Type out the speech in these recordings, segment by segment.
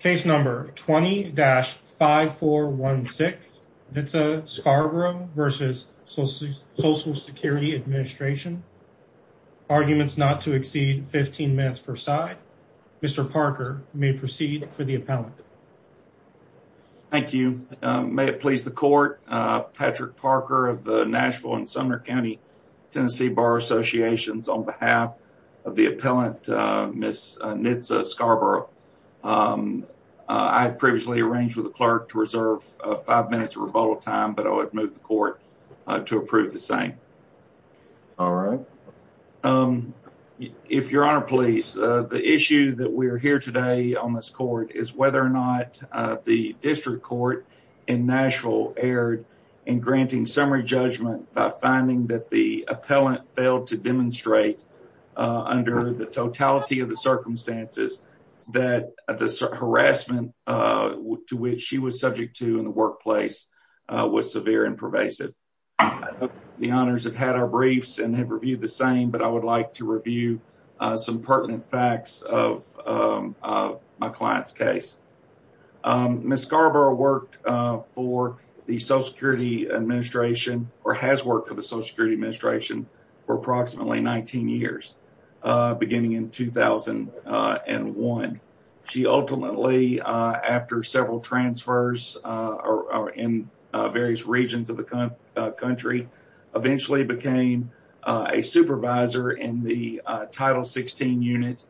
Case number 20-5416, Nitza Scarbro v. Social Security Administration. Arguments not to exceed 15 minutes per side. Mr. Parker may proceed for the appellant. Thank you. May it please the court, Patrick Parker of the Nashville and Sumner County Tennessee Bar Associations. On behalf of the appellant, Ms. Nitza Scarbro, I had previously arranged with the clerk to reserve five minutes of rebuttal time, but I would move the court to approve the same. All right. If your honor please, the issue that we are here today on this court is whether or not the district court in Nashville erred in granting summary judgment by finding that the appellant failed to demonstrate under the totality of the circumstances that the harassment to which she was subject to in the workplace was severe and pervasive. The honors have had our briefs and have reviewed the same, but I would like to review some pertinent facts of my client's case. Ms. Scarbro worked for the Social Security Administration or has worked for the Social Security Administration for approximately 19 years, beginning in 2001. She ultimately, after several transfers in various regions of the country, eventually became a supervisor in the Title 16 unit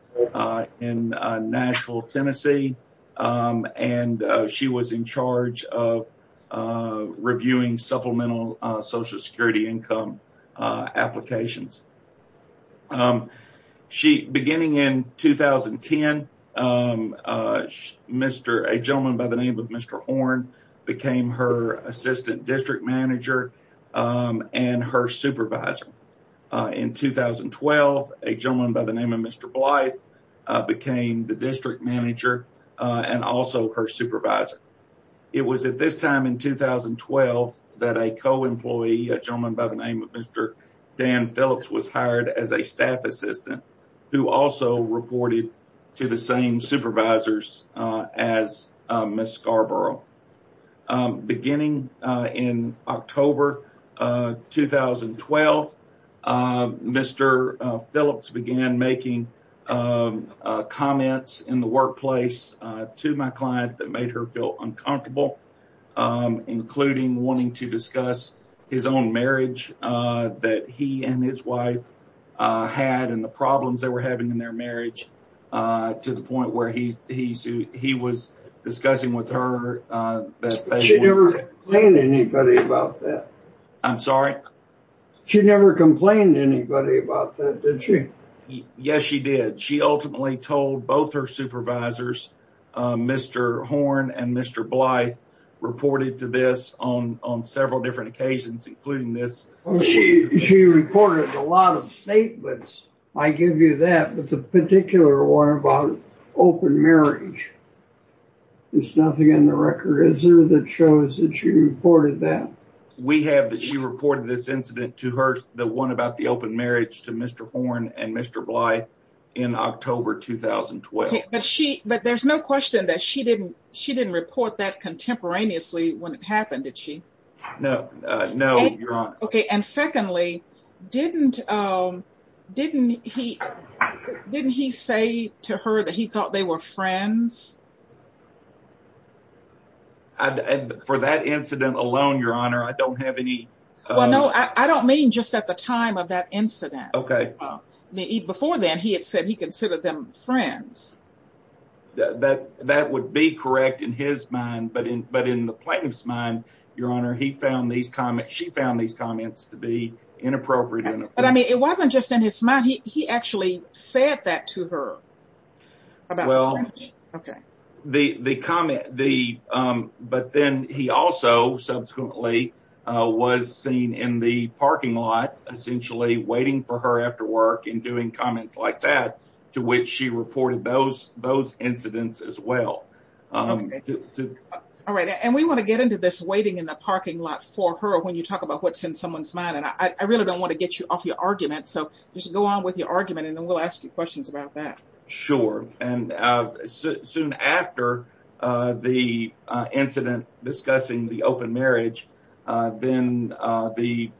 in Nashville, Tennessee, and she was in charge of reviewing supplemental Social Security income applications. Beginning in 2010, a gentleman by the name of Mr. Horn became her assistant became the district manager and also her supervisor. It was at this time in 2012 that a co-employee, a gentleman by the name of Mr. Dan Phillips, was hired as a staff assistant who also reported to the same supervisors as Ms. Scarborough. Beginning in October 2012, Mr. Phillips began making comments in the workplace to my client that made her feel uncomfortable, including wanting to discuss his own marriage that he and his wife had and the problems they were having in their marriage to the point where he was discussing with her. But she never complained to anybody about that? I'm sorry? She never complained to anybody about that, did she? Yes, she did. She ultimately told both her supervisors, Mr. Horn and Mr. Bly, reported to this on several different occasions, including this. She reported a lot of statements, I give you that, but the particular one about open marriage, there's nothing in the record, is there, that shows that she reported that? We have that she reported this incident to her, the one about the open marriage to Mr. Horn and Mr. Bly in October 2012. But there's no question that she didn't report that contemporaneously when it happened, did she? No, no, Your Honor. Okay, and secondly, didn't he say to her that he thought they were friends? For that incident alone, Your Honor, I don't have any... Well, no, I don't mean just at the time of that incident. Okay. Before then, he had said he considered them friends. That would be correct in his mind, but in the plaintiff's mind, Your Honor, he found these comments, she found these comments to be inappropriate. But I mean, it wasn't just in his mind, he actually said that to her. Well, the comment, but then he also subsequently was seen in the parking lot, essentially waiting for her after work and doing comments like that, to which she reported those incidents as well. All right, and we want to get into this waiting in the parking lot for her when you talk about what's in someone's mind, and I really don't want to get you off your argument, so just go on with your argument and then we'll ask you questions about that. Sure, and soon after the incident discussing the open marriage, then the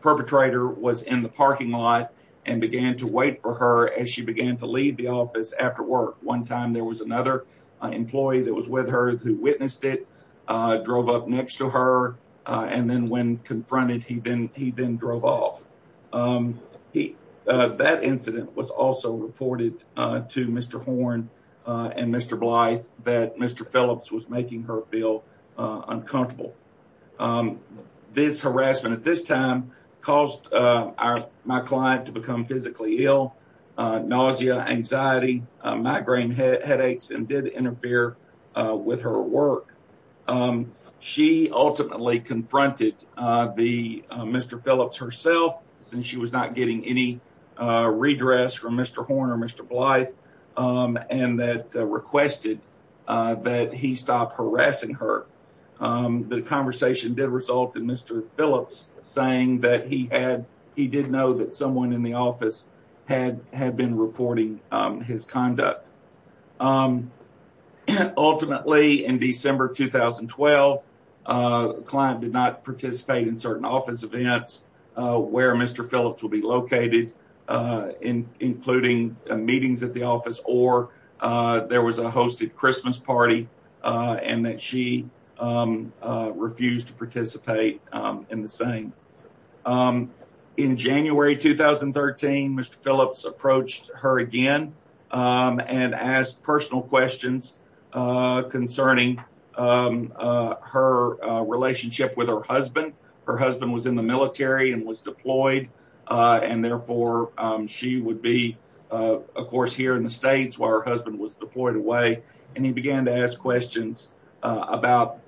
perpetrator was in the parking lot and began to wait for her as she began to leave the office after work. One time, there was another employee that was with her who witnessed it, drove up next to her, and then when confronted, he then drove off. That incident was also reported to Mr. Horne and Mr. Blythe that Mr. Phillips was making her feel uncomfortable. This harassment at this time caused my client to become physically ill, nausea, anxiety, migraine headaches, and did interfere with her work. She ultimately confronted Mr. Phillips herself since she was not getting any redress from Mr. Horne or Mr. Blythe and requested that he stop harassing her. The conversation did result in Mr. Phillips saying that he did know that someone in the office had been reporting his conduct. Ultimately, in December 2012, the client did not participate in certain office events where Mr. Phillips would be located, including meetings at the office or there was a hosted Christmas party and that she refused to participate in the same. In January 2013, Mr. Phillips approached her again and asked personal questions concerning her relationship with her husband. Her husband was in the military and was deployed and therefore she would be, of course, here in the States while her husband was deployed away, and he began to ask questions about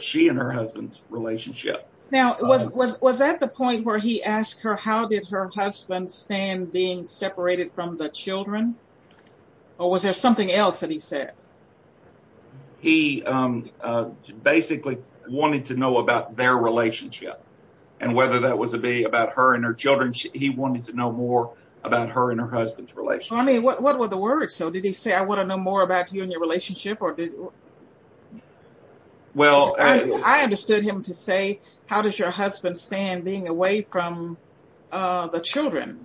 she and her husband's relationship. Now, was that the point where he asked her how did her husband stand being separated from the children? He basically wanted to know about their relationship and whether that was to be about her and her children. He wanted to know more about her and her husband's relationship. What were the words? Did he say, I want to know more about you and your relationship? I understood him to say, how does your husband stand being away from the children?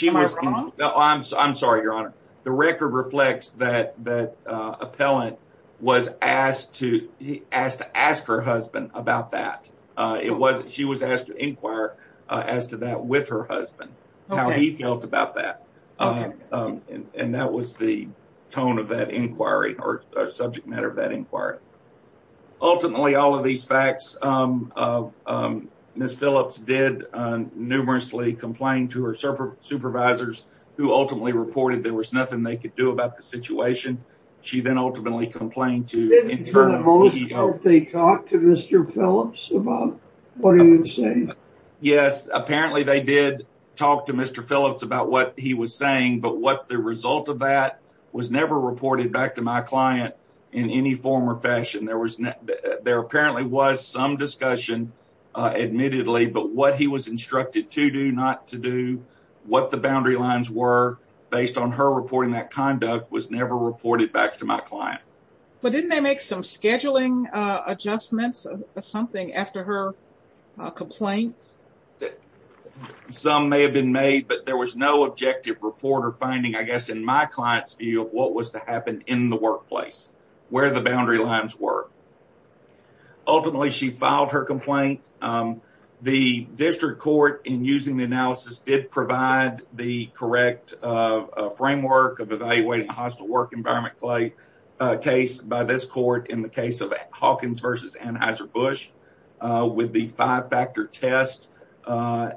Am I wrong? No, I'm sorry, Your Honor. The record reflects that the appellant was asked to ask her husband about that. She was asked to inquire as to that with her husband, how he felt about that, and that was the tone of that inquiry or subject matter of that inquiry. Ultimately, all of these facts, Ms. Phillips did numerously complain to her supervisors who ultimately reported there was nothing they could do about the situation. She then ultimately complained to... Didn't for the most part they talk to Mr. Phillips about what he was saying? Yes, apparently they did talk to Mr. Phillips about what he was saying, but what the result of that was never reported back to my client in any form or fashion. There apparently was some discussion admittedly, but what he was instructed to do, not to do, what the boundary lines were based on her reporting that conduct was never reported back to my client. But didn't they make some scheduling adjustments or something after her complaints? Some may have been made, but there was no objective report or finding, I guess, in my client's view of what was to happen in the workplace, where the boundary lines were. Ultimately, she filed her complaint. The district court, in using the analysis, did provide the correct framework of evaluating a hostile work environment case by this court in the case of Hawkins v. Anheuser-Busch with the five-factor test.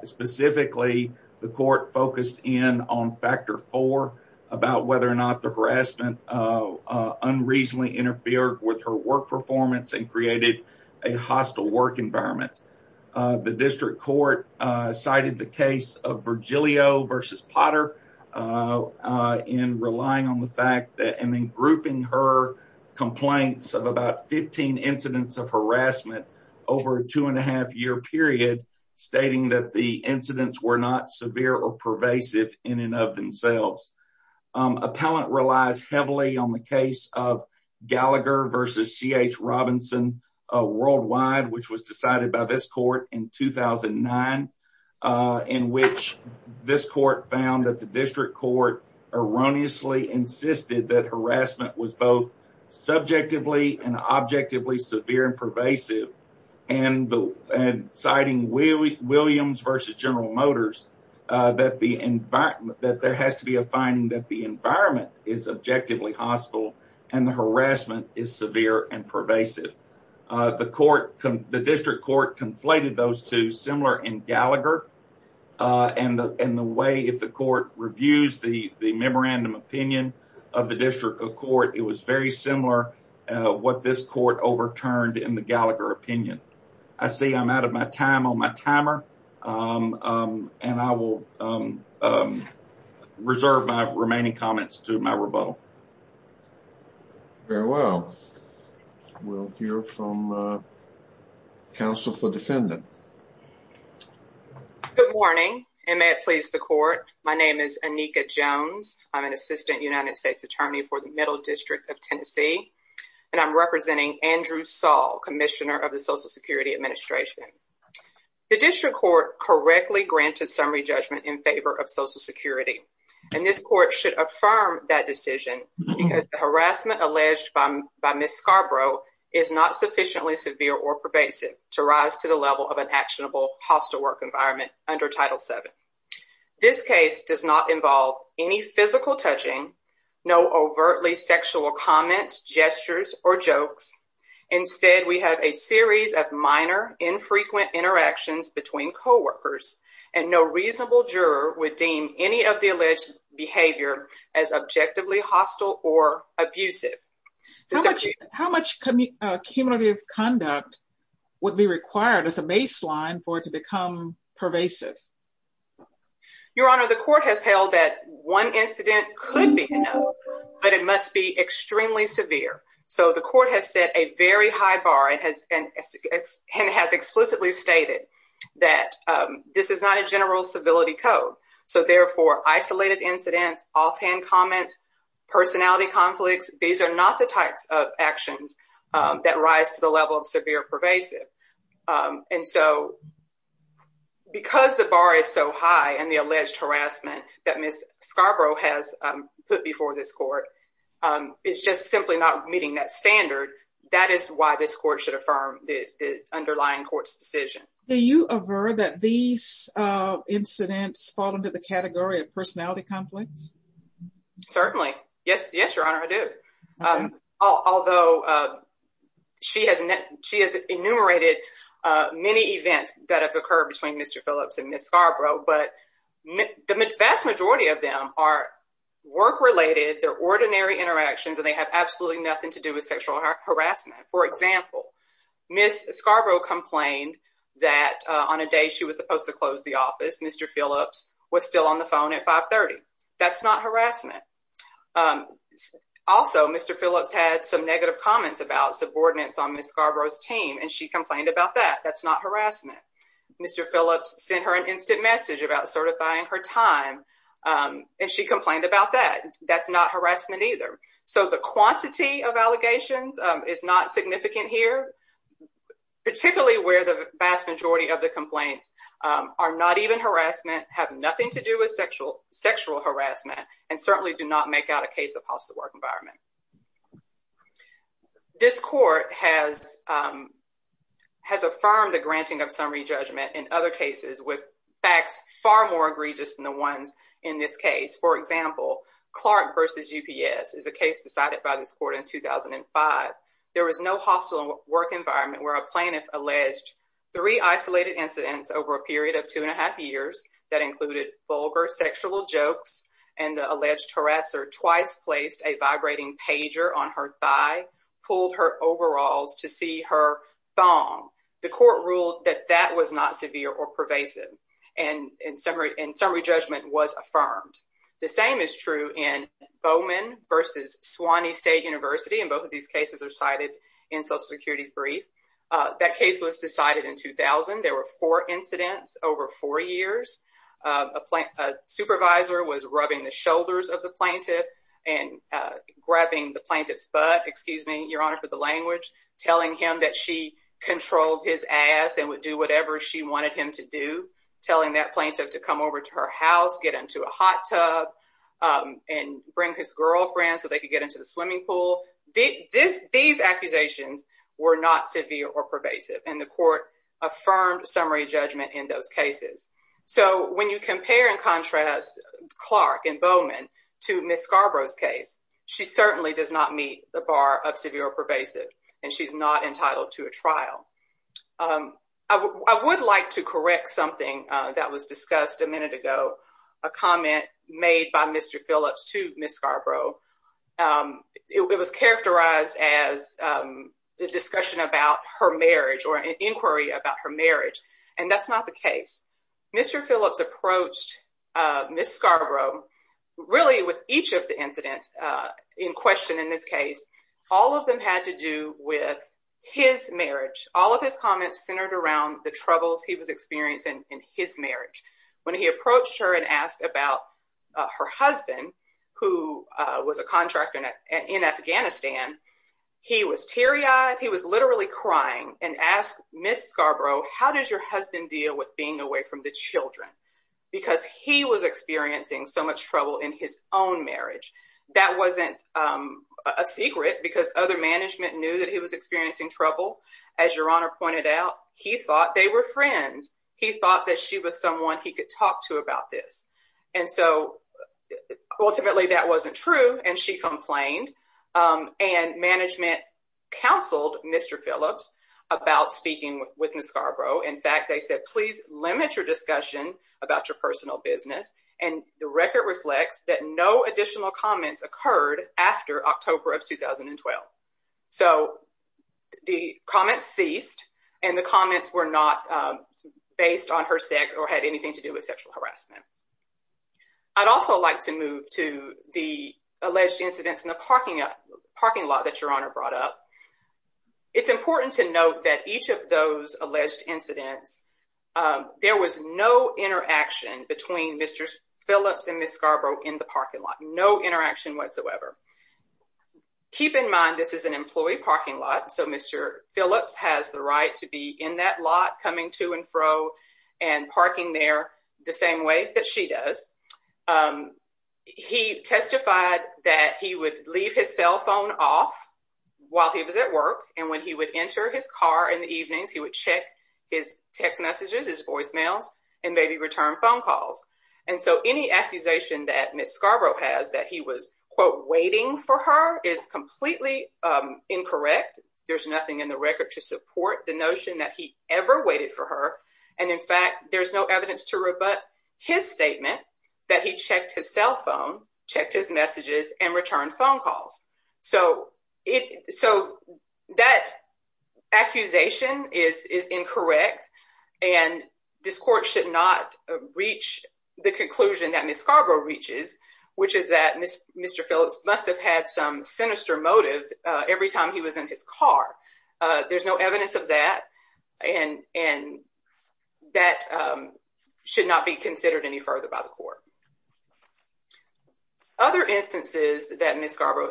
Specifically, the court focused in on about whether or not the harassment unreasonably interfered with her work performance and created a hostile work environment. The district court cited the case of Virgilio v. Potter in relying on the fact that and then grouping her complaints of about 15 incidents of harassment over a two-and-a-half-year period, stating that the incidents were not severe or pervasive in of themselves. Appellant relies heavily on the case of Gallagher v. C.H. Robinson worldwide, which was decided by this court in 2009, in which this court found that the district court erroneously insisted that harassment was both subjectively and objectively severe and pervasive, and citing Williams v. General Motors, that there has to be a finding that the environment is objectively hostile and the harassment is severe and pervasive. The district court conflated those two, similar in Gallagher, and the way if the court reviews the memorandum opinion of the district court, it was very similar what this court overturned in the Gallagher opinion. I see I'm out of my time on my timer, and I will reserve my remaining comments to my rebuttal. Very well. We'll hear from counsel for defendant. Good morning, and may it please the court. My name is Anika Jones. I'm an assistant United States attorney for the Middle District of Tennessee, and I'm representing Andrew Saul, Commissioner of the Social Security Administration. The district court correctly granted summary judgment in favor of Social Security, and this court should affirm that decision, because the harassment alleged by Ms. Scarborough is not sufficiently severe or pervasive to rise to the level of an actionable hostile work environment under Title VII. This case does not involve any physical touching, no overtly sexual comments, gestures, or jokes. Instead, we have a series of minor, infrequent interactions between coworkers, and no reasonable juror would deem any of the alleged behavior as objectively hostile or abusive. How much cumulative conduct would be required as a baseline for it to become pervasive? Your Honor, the court has held that one incident could be enough, but it must be extremely severe, so the court has set a very high bar and has explicitly stated that this is not a general civility code, so therefore isolated incidents, offhand comments, personality conflicts, these are not the types of actions that rise to the level of severe or pervasive, and so because the bar is so high and the alleged harassment that Ms. Scarborough has put before this court is just simply not meeting that standard, that is why this court should affirm the underlying court's decision. Do you aver that these incidents fall into the category of personality conflicts? Certainly. Yes, Your Honor, I do. Although she has enumerated many events that have occurred between Mr. Phillips and Ms. Scarborough, but the vast majority of them are work-related, they're ordinary interactions, and they have absolutely nothing to do with sexual harassment. For example, Ms. Scarborough complained that on a she was supposed to close the office, Mr. Phillips was still on the phone at 530. That's not harassment. Also, Mr. Phillips had some negative comments about subordinates on Ms. Scarborough's team, and she complained about that. That's not harassment. Mr. Phillips sent her an instant message about certifying her time, and she complained about that. That's not harassment either, so the quantity of allegations is not significant here, particularly where the vast of the complaints are not even harassment, have nothing to do with sexual harassment, and certainly do not make out a case of hostile work environment. This court has affirmed the granting of summary judgment in other cases with facts far more egregious than the ones in this case. For example, Clark v. UPS is a case decided by this court in over a period of two and a half years that included vulgar sexual jokes, and the alleged harasser twice placed a vibrating pager on her thigh, pulled her overalls to see her thong. The court ruled that that was not severe or pervasive, and summary judgment was affirmed. The same is true in Bowman v. Swanee State University, and both of these cases are cited in Social Security's brief. That case was decided in 2000. There were four incidents over four years. A supervisor was rubbing the shoulders of the plaintiff and grabbing the plaintiff's butt, excuse me, your honor for the language, telling him that she controlled his ass and would do whatever she wanted him to do, telling that plaintiff to come over to her house, get into a were not severe or pervasive, and the court affirmed summary judgment in those cases. So when you compare and contrast Clark and Bowman to Ms. Scarborough's case, she certainly does not meet the bar of severe or pervasive, and she's not entitled to a trial. I would like to correct something that was discussed a minute ago, a comment made by Mr. Phillips to Ms. Scarborough. It was characterized as a discussion about her marriage or an inquiry about her marriage, and that's not the case. Mr. Phillips approached Ms. Scarborough, really with each of the incidents in question in this case, all of them had to do with his marriage. All of his comments centered around the troubles he was experiencing in his marriage. When he approached her and asked about her husband, who was a contractor in Afghanistan, he was teary-eyed. He was literally crying and asked Ms. Scarborough, how does your husband deal with being away from the children? Because he was experiencing so much trouble in his own marriage. That wasn't a secret because other management knew that he was experiencing trouble. As your Honor pointed out, he thought they were friends. He thought that she was someone he could talk to about this. Ultimately, that wasn't true, and she complained. Management counseled Mr. Phillips about speaking with Ms. Scarborough. In fact, they said, please limit your discussion about your personal business. The record reflects that no additional comments occurred after October of 2012. So the comments ceased, and the comments were not based on her sex or had anything to do with sexual harassment. I'd also like to move to the alleged incidents in the parking lot that your Honor brought up. It's important to note that each of those alleged incidents, there was no interaction between Mr. Phillips and Ms. Scarborough in the parking lot, no interaction whatsoever. Keep in mind, this is an employee parking lot, so Mr. Phillips has the right to be in that lot, coming to and fro, and parking there the same way that she does. He testified that he would leave his cell phone off while he was at work, and when he would enter his car in the evenings, he would check his text messages, his voicemails, and maybe return phone calls. And so any accusation that Ms. Scarborough has that he was, quote, waiting for her is completely incorrect. There's nothing in the record to support the notion that he ever waited for her. And in fact, there's no evidence to rebut his statement that he checked his cell phone, checked his messages, and returned phone calls. So that accusation is incorrect, and this court should not reach the conclusion that Ms. Scarborough reaches, which is that Mr. Phillips must have had some sinister motive every time he was in his car. There's no evidence of that, and that should not be considered any further by the court. Other instances that Ms. Scarborough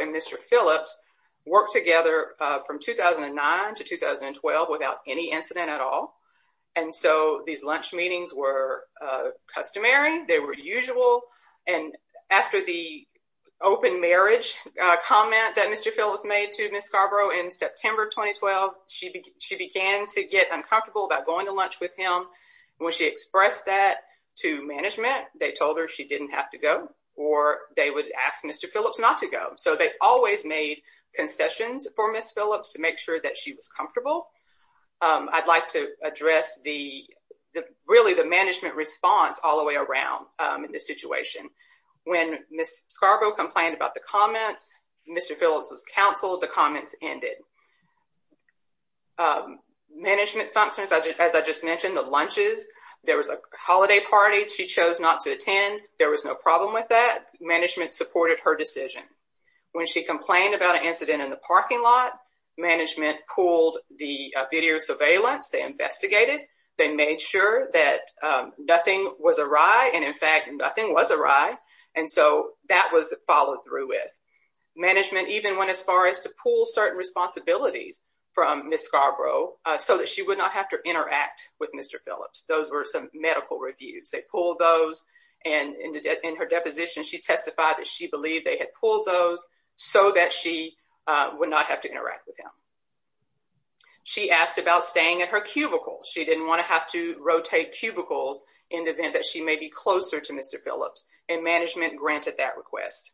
and Mr. Phillips worked together from 2009 to 2012 without any incident at all. And so these lunch meetings were customary. They were usual, and after the open marriage comment that Mr. Phillips made to Ms. Scarborough in September 2012, she began to get uncomfortable about going to lunch with him. When she expressed that to management, they told her she didn't have to go, or they would ask Mr. Phillips not to go. So they always made concessions for Ms. Phillips to make sure that she was comfortable. I'd like to address the, really the management response all the way around in this situation. When Ms. Scarborough complained about the comments, Mr. Phillips was counseled, the comments ended. Management functions, as I just mentioned, the lunches, there was a holiday party she chose not to attend. There was no problem with that. Management supported her decision. When she complained about an incident in the parking lot, management pulled the video surveillance, they investigated, they made sure that nothing was awry, and in fact, nothing was awry. And so that was followed through with. Management even went as far as to pull certain responsibilities from Ms. Scarborough so that she would not have to interact with Mr. Phillips. Those were some medical reviews. They pulled those, and in her deposition, she testified that she believed they had pulled those so that she would not have to interact with him. She asked about staying in her cubicle. She didn't want to have to rotate cubicles in the event that she may be closer to Mr. Phillips, and management granted that request.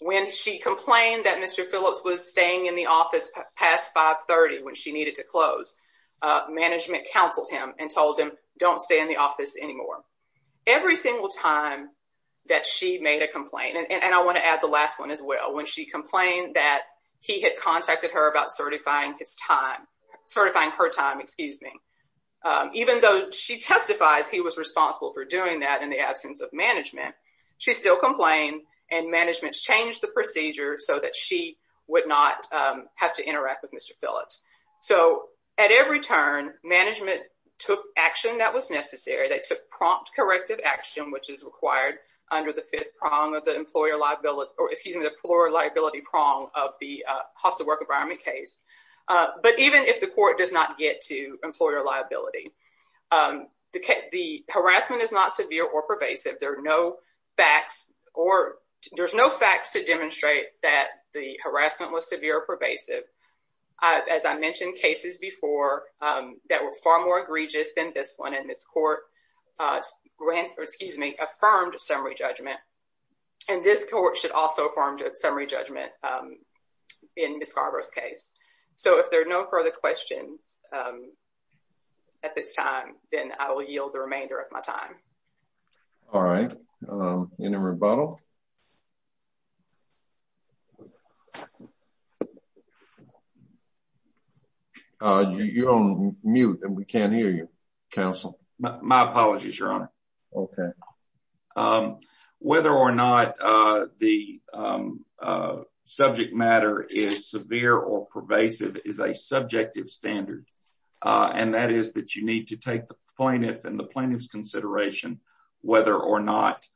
When she complained that Mr. Phillips was staying in the office past 530 when she needed to close, management counseled him and told him, don't stay in the office anymore. Every single time that she made a complaint, and I want to add the last one as well, when she complained that he had contacted her about certifying his time, certifying her time, excuse me, even though she testifies he was responsible for doing that in the absence of management, she still complained, and management changed the procedure so that she would not have to interact with Mr. Phillips. At every turn, management took action that was necessary. They took prompt corrective action, which is required under the fifth prong of the employer liability prong of the hostile work environment case, but even if the court does not get to employer liability, the harassment is not severe or pervasive. There are no facts or there's no facts to demonstrate that the harassment was severe or pervasive. As I mentioned cases before that were far more egregious than this one, and this court, excuse me, affirmed a summary judgment, and this court should also affirm a summary judgment in Ms. Scarborough's case. So if there are no further questions at this time, then I will yield the remainder of my time. All right, any rebuttal? You're on mute and we can't hear you, counsel. My apologies, your honor. Okay. Whether or not the subject matter is severe or pervasive is a subjective standard, and that is that you need to take the plaintiff and the plaintiff's consideration whether or not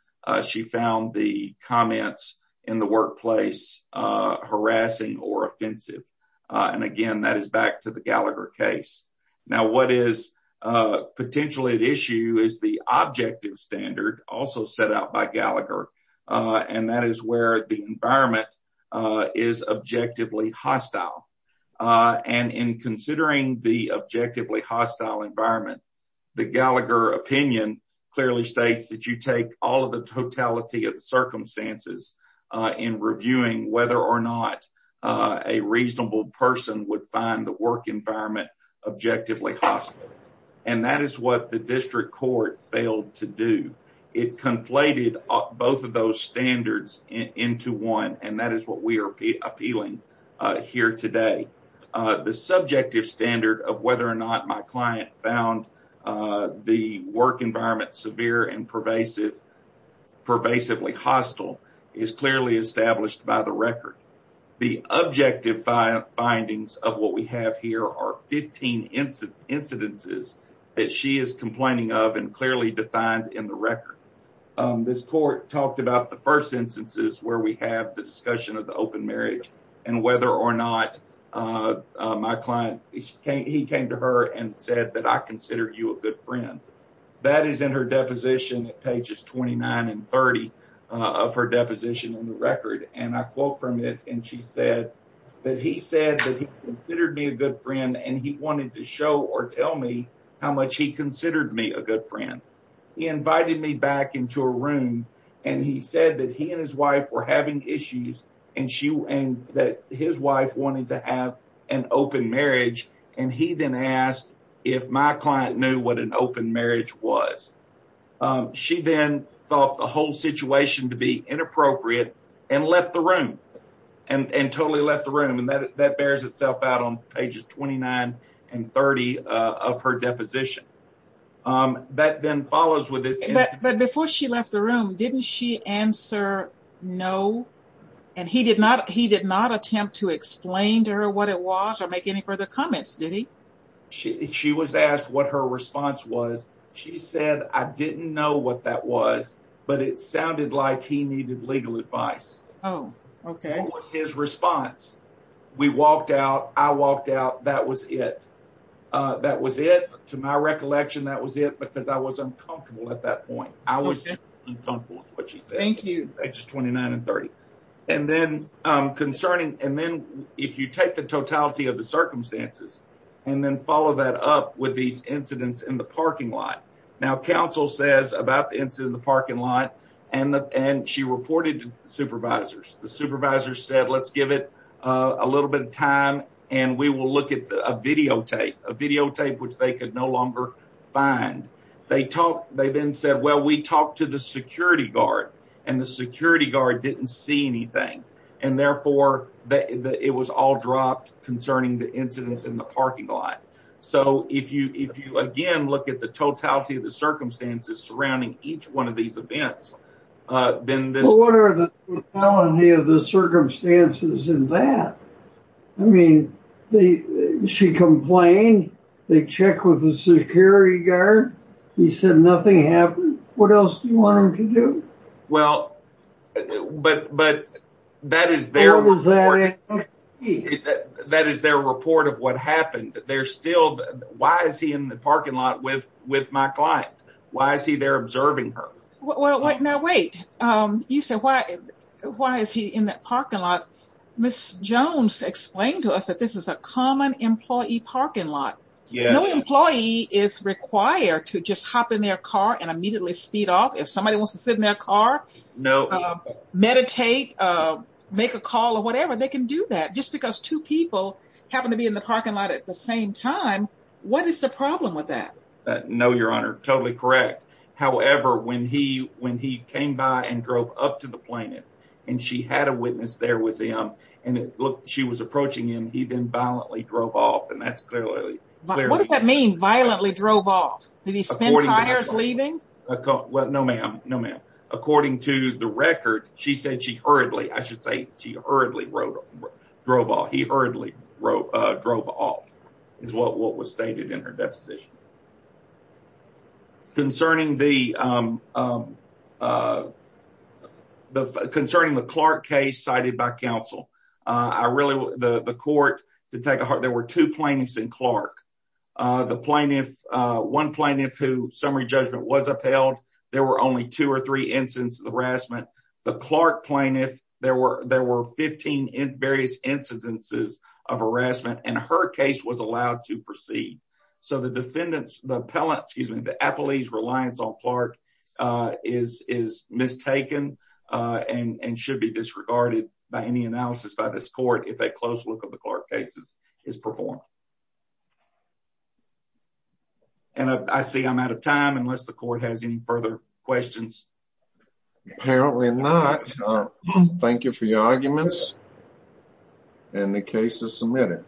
she found the comments in the workplace harassing or offensive, and again that is back to the Gallagher case. Now what is potentially at issue is the objective standard also set out by Gallagher, and that is where the environment is objectively hostile, and in considering the objectively hostile environment, the Gallagher opinion clearly states that you take all of the totality of the circumstances in reviewing whether or not a reasonable person would find the work environment objectively hostile, and that is what the district court failed to do. It conflated both of those standards into one, and that is what we are appealing here today. The subjective standard of whether or not my client found the work environment severe and pervasively hostile is clearly established by the record. The objective findings of what we have here are 15 incidences that she is complaining of and clearly defined in the record. This court talked about the first instances where we have the discussion of the open marriage and whether or not my client, he came to her and said that I considered you a good friend. That is in her deposition at pages 29 and 30 of her deposition in the record, and I quote from it and she said that he said that he considered me a good friend and he wanted to show or tell me how much he considered me a good friend. He invited me back into a room and he said that he and his wife were having issues and that his wife wanted to have an open marriage, and he then asked if my client knew what an open marriage was. She then thought the whole situation to be inappropriate and left the room and totally left the room, and that bears itself out on pages 29 and 30 of her deposition. But before she left the room, didn't she answer no, and he did not attempt to explain to her what it was or make any further comments, did he? She was asked what her response was. She said I didn't know what that was, but it sounded like he needed legal advice. What was his response? We walked out, I walked out, that was it. That was it. To my recollection, that was it because I was uncomfortable at that point. I was uncomfortable with what she said. Thank you. Pages 29 and 30. And then concerning, and then if you take the totality of the circumstances and then follow that up with these incidents in the parking lot. Now council says about the incident in the parking lot and she reported to the supervisors. The supervisors said let's give it a little bit of time and we will look at a videotape, a videotape which they could no longer find. They then said well we talked to the security guard and the security guard didn't see anything and therefore it was all dropped concerning the incidents in the parking lot. So if you again look at the totality of the circumstances surrounding each one of these events. Then what are the totality of the circumstances in that? I mean, she complained, they checked with the security guard, he said nothing happened. What else do you want him to do? Well, but that is their report. That is their report of what happened. They're still, why is he in the parking lot with my client? Why is he there observing her? Well, now wait, you said why is he in that parking lot? Ms. Jones explained to us that this is a common employee parking lot. No employee is required to just hop in their car and immediately speed off. If somebody wants to sit in their car, meditate, make a call or whatever, they can do that. Just because two people happen to be in the parking lot at the same time, what is the problem with that? No, your honor, totally correct. However, when he came by and drove up to the plaintiff and she had a witness there with him and she was approaching him, he then violently drove off and that's clearly. What does that mean, violently drove off? Did he spend hours leaving? Well, no ma'am, no ma'am. According to the record, she said she hurriedly, I should say, hurriedly drove off. He hurriedly drove off is what was stated in her deposition. Concerning the Clark case cited by counsel, I really, the court, to take a heart, there were two plaintiffs in Clark. The plaintiff, one plaintiff who summary judgment was upheld, there were only two or three incidents of harassment. The Clark plaintiff, there were 15 in various incidences of harassment and her case was allowed to proceed. So the defendant's, the appellant, excuse me, the appellee's reliance on Clark is mistaken and should be disregarded by any analysis by this court if a close look of the Clark cases is performed. And I see I'm out of time unless the court has any further questions. Apparently not. Thank you for your arguments and the case is submitted.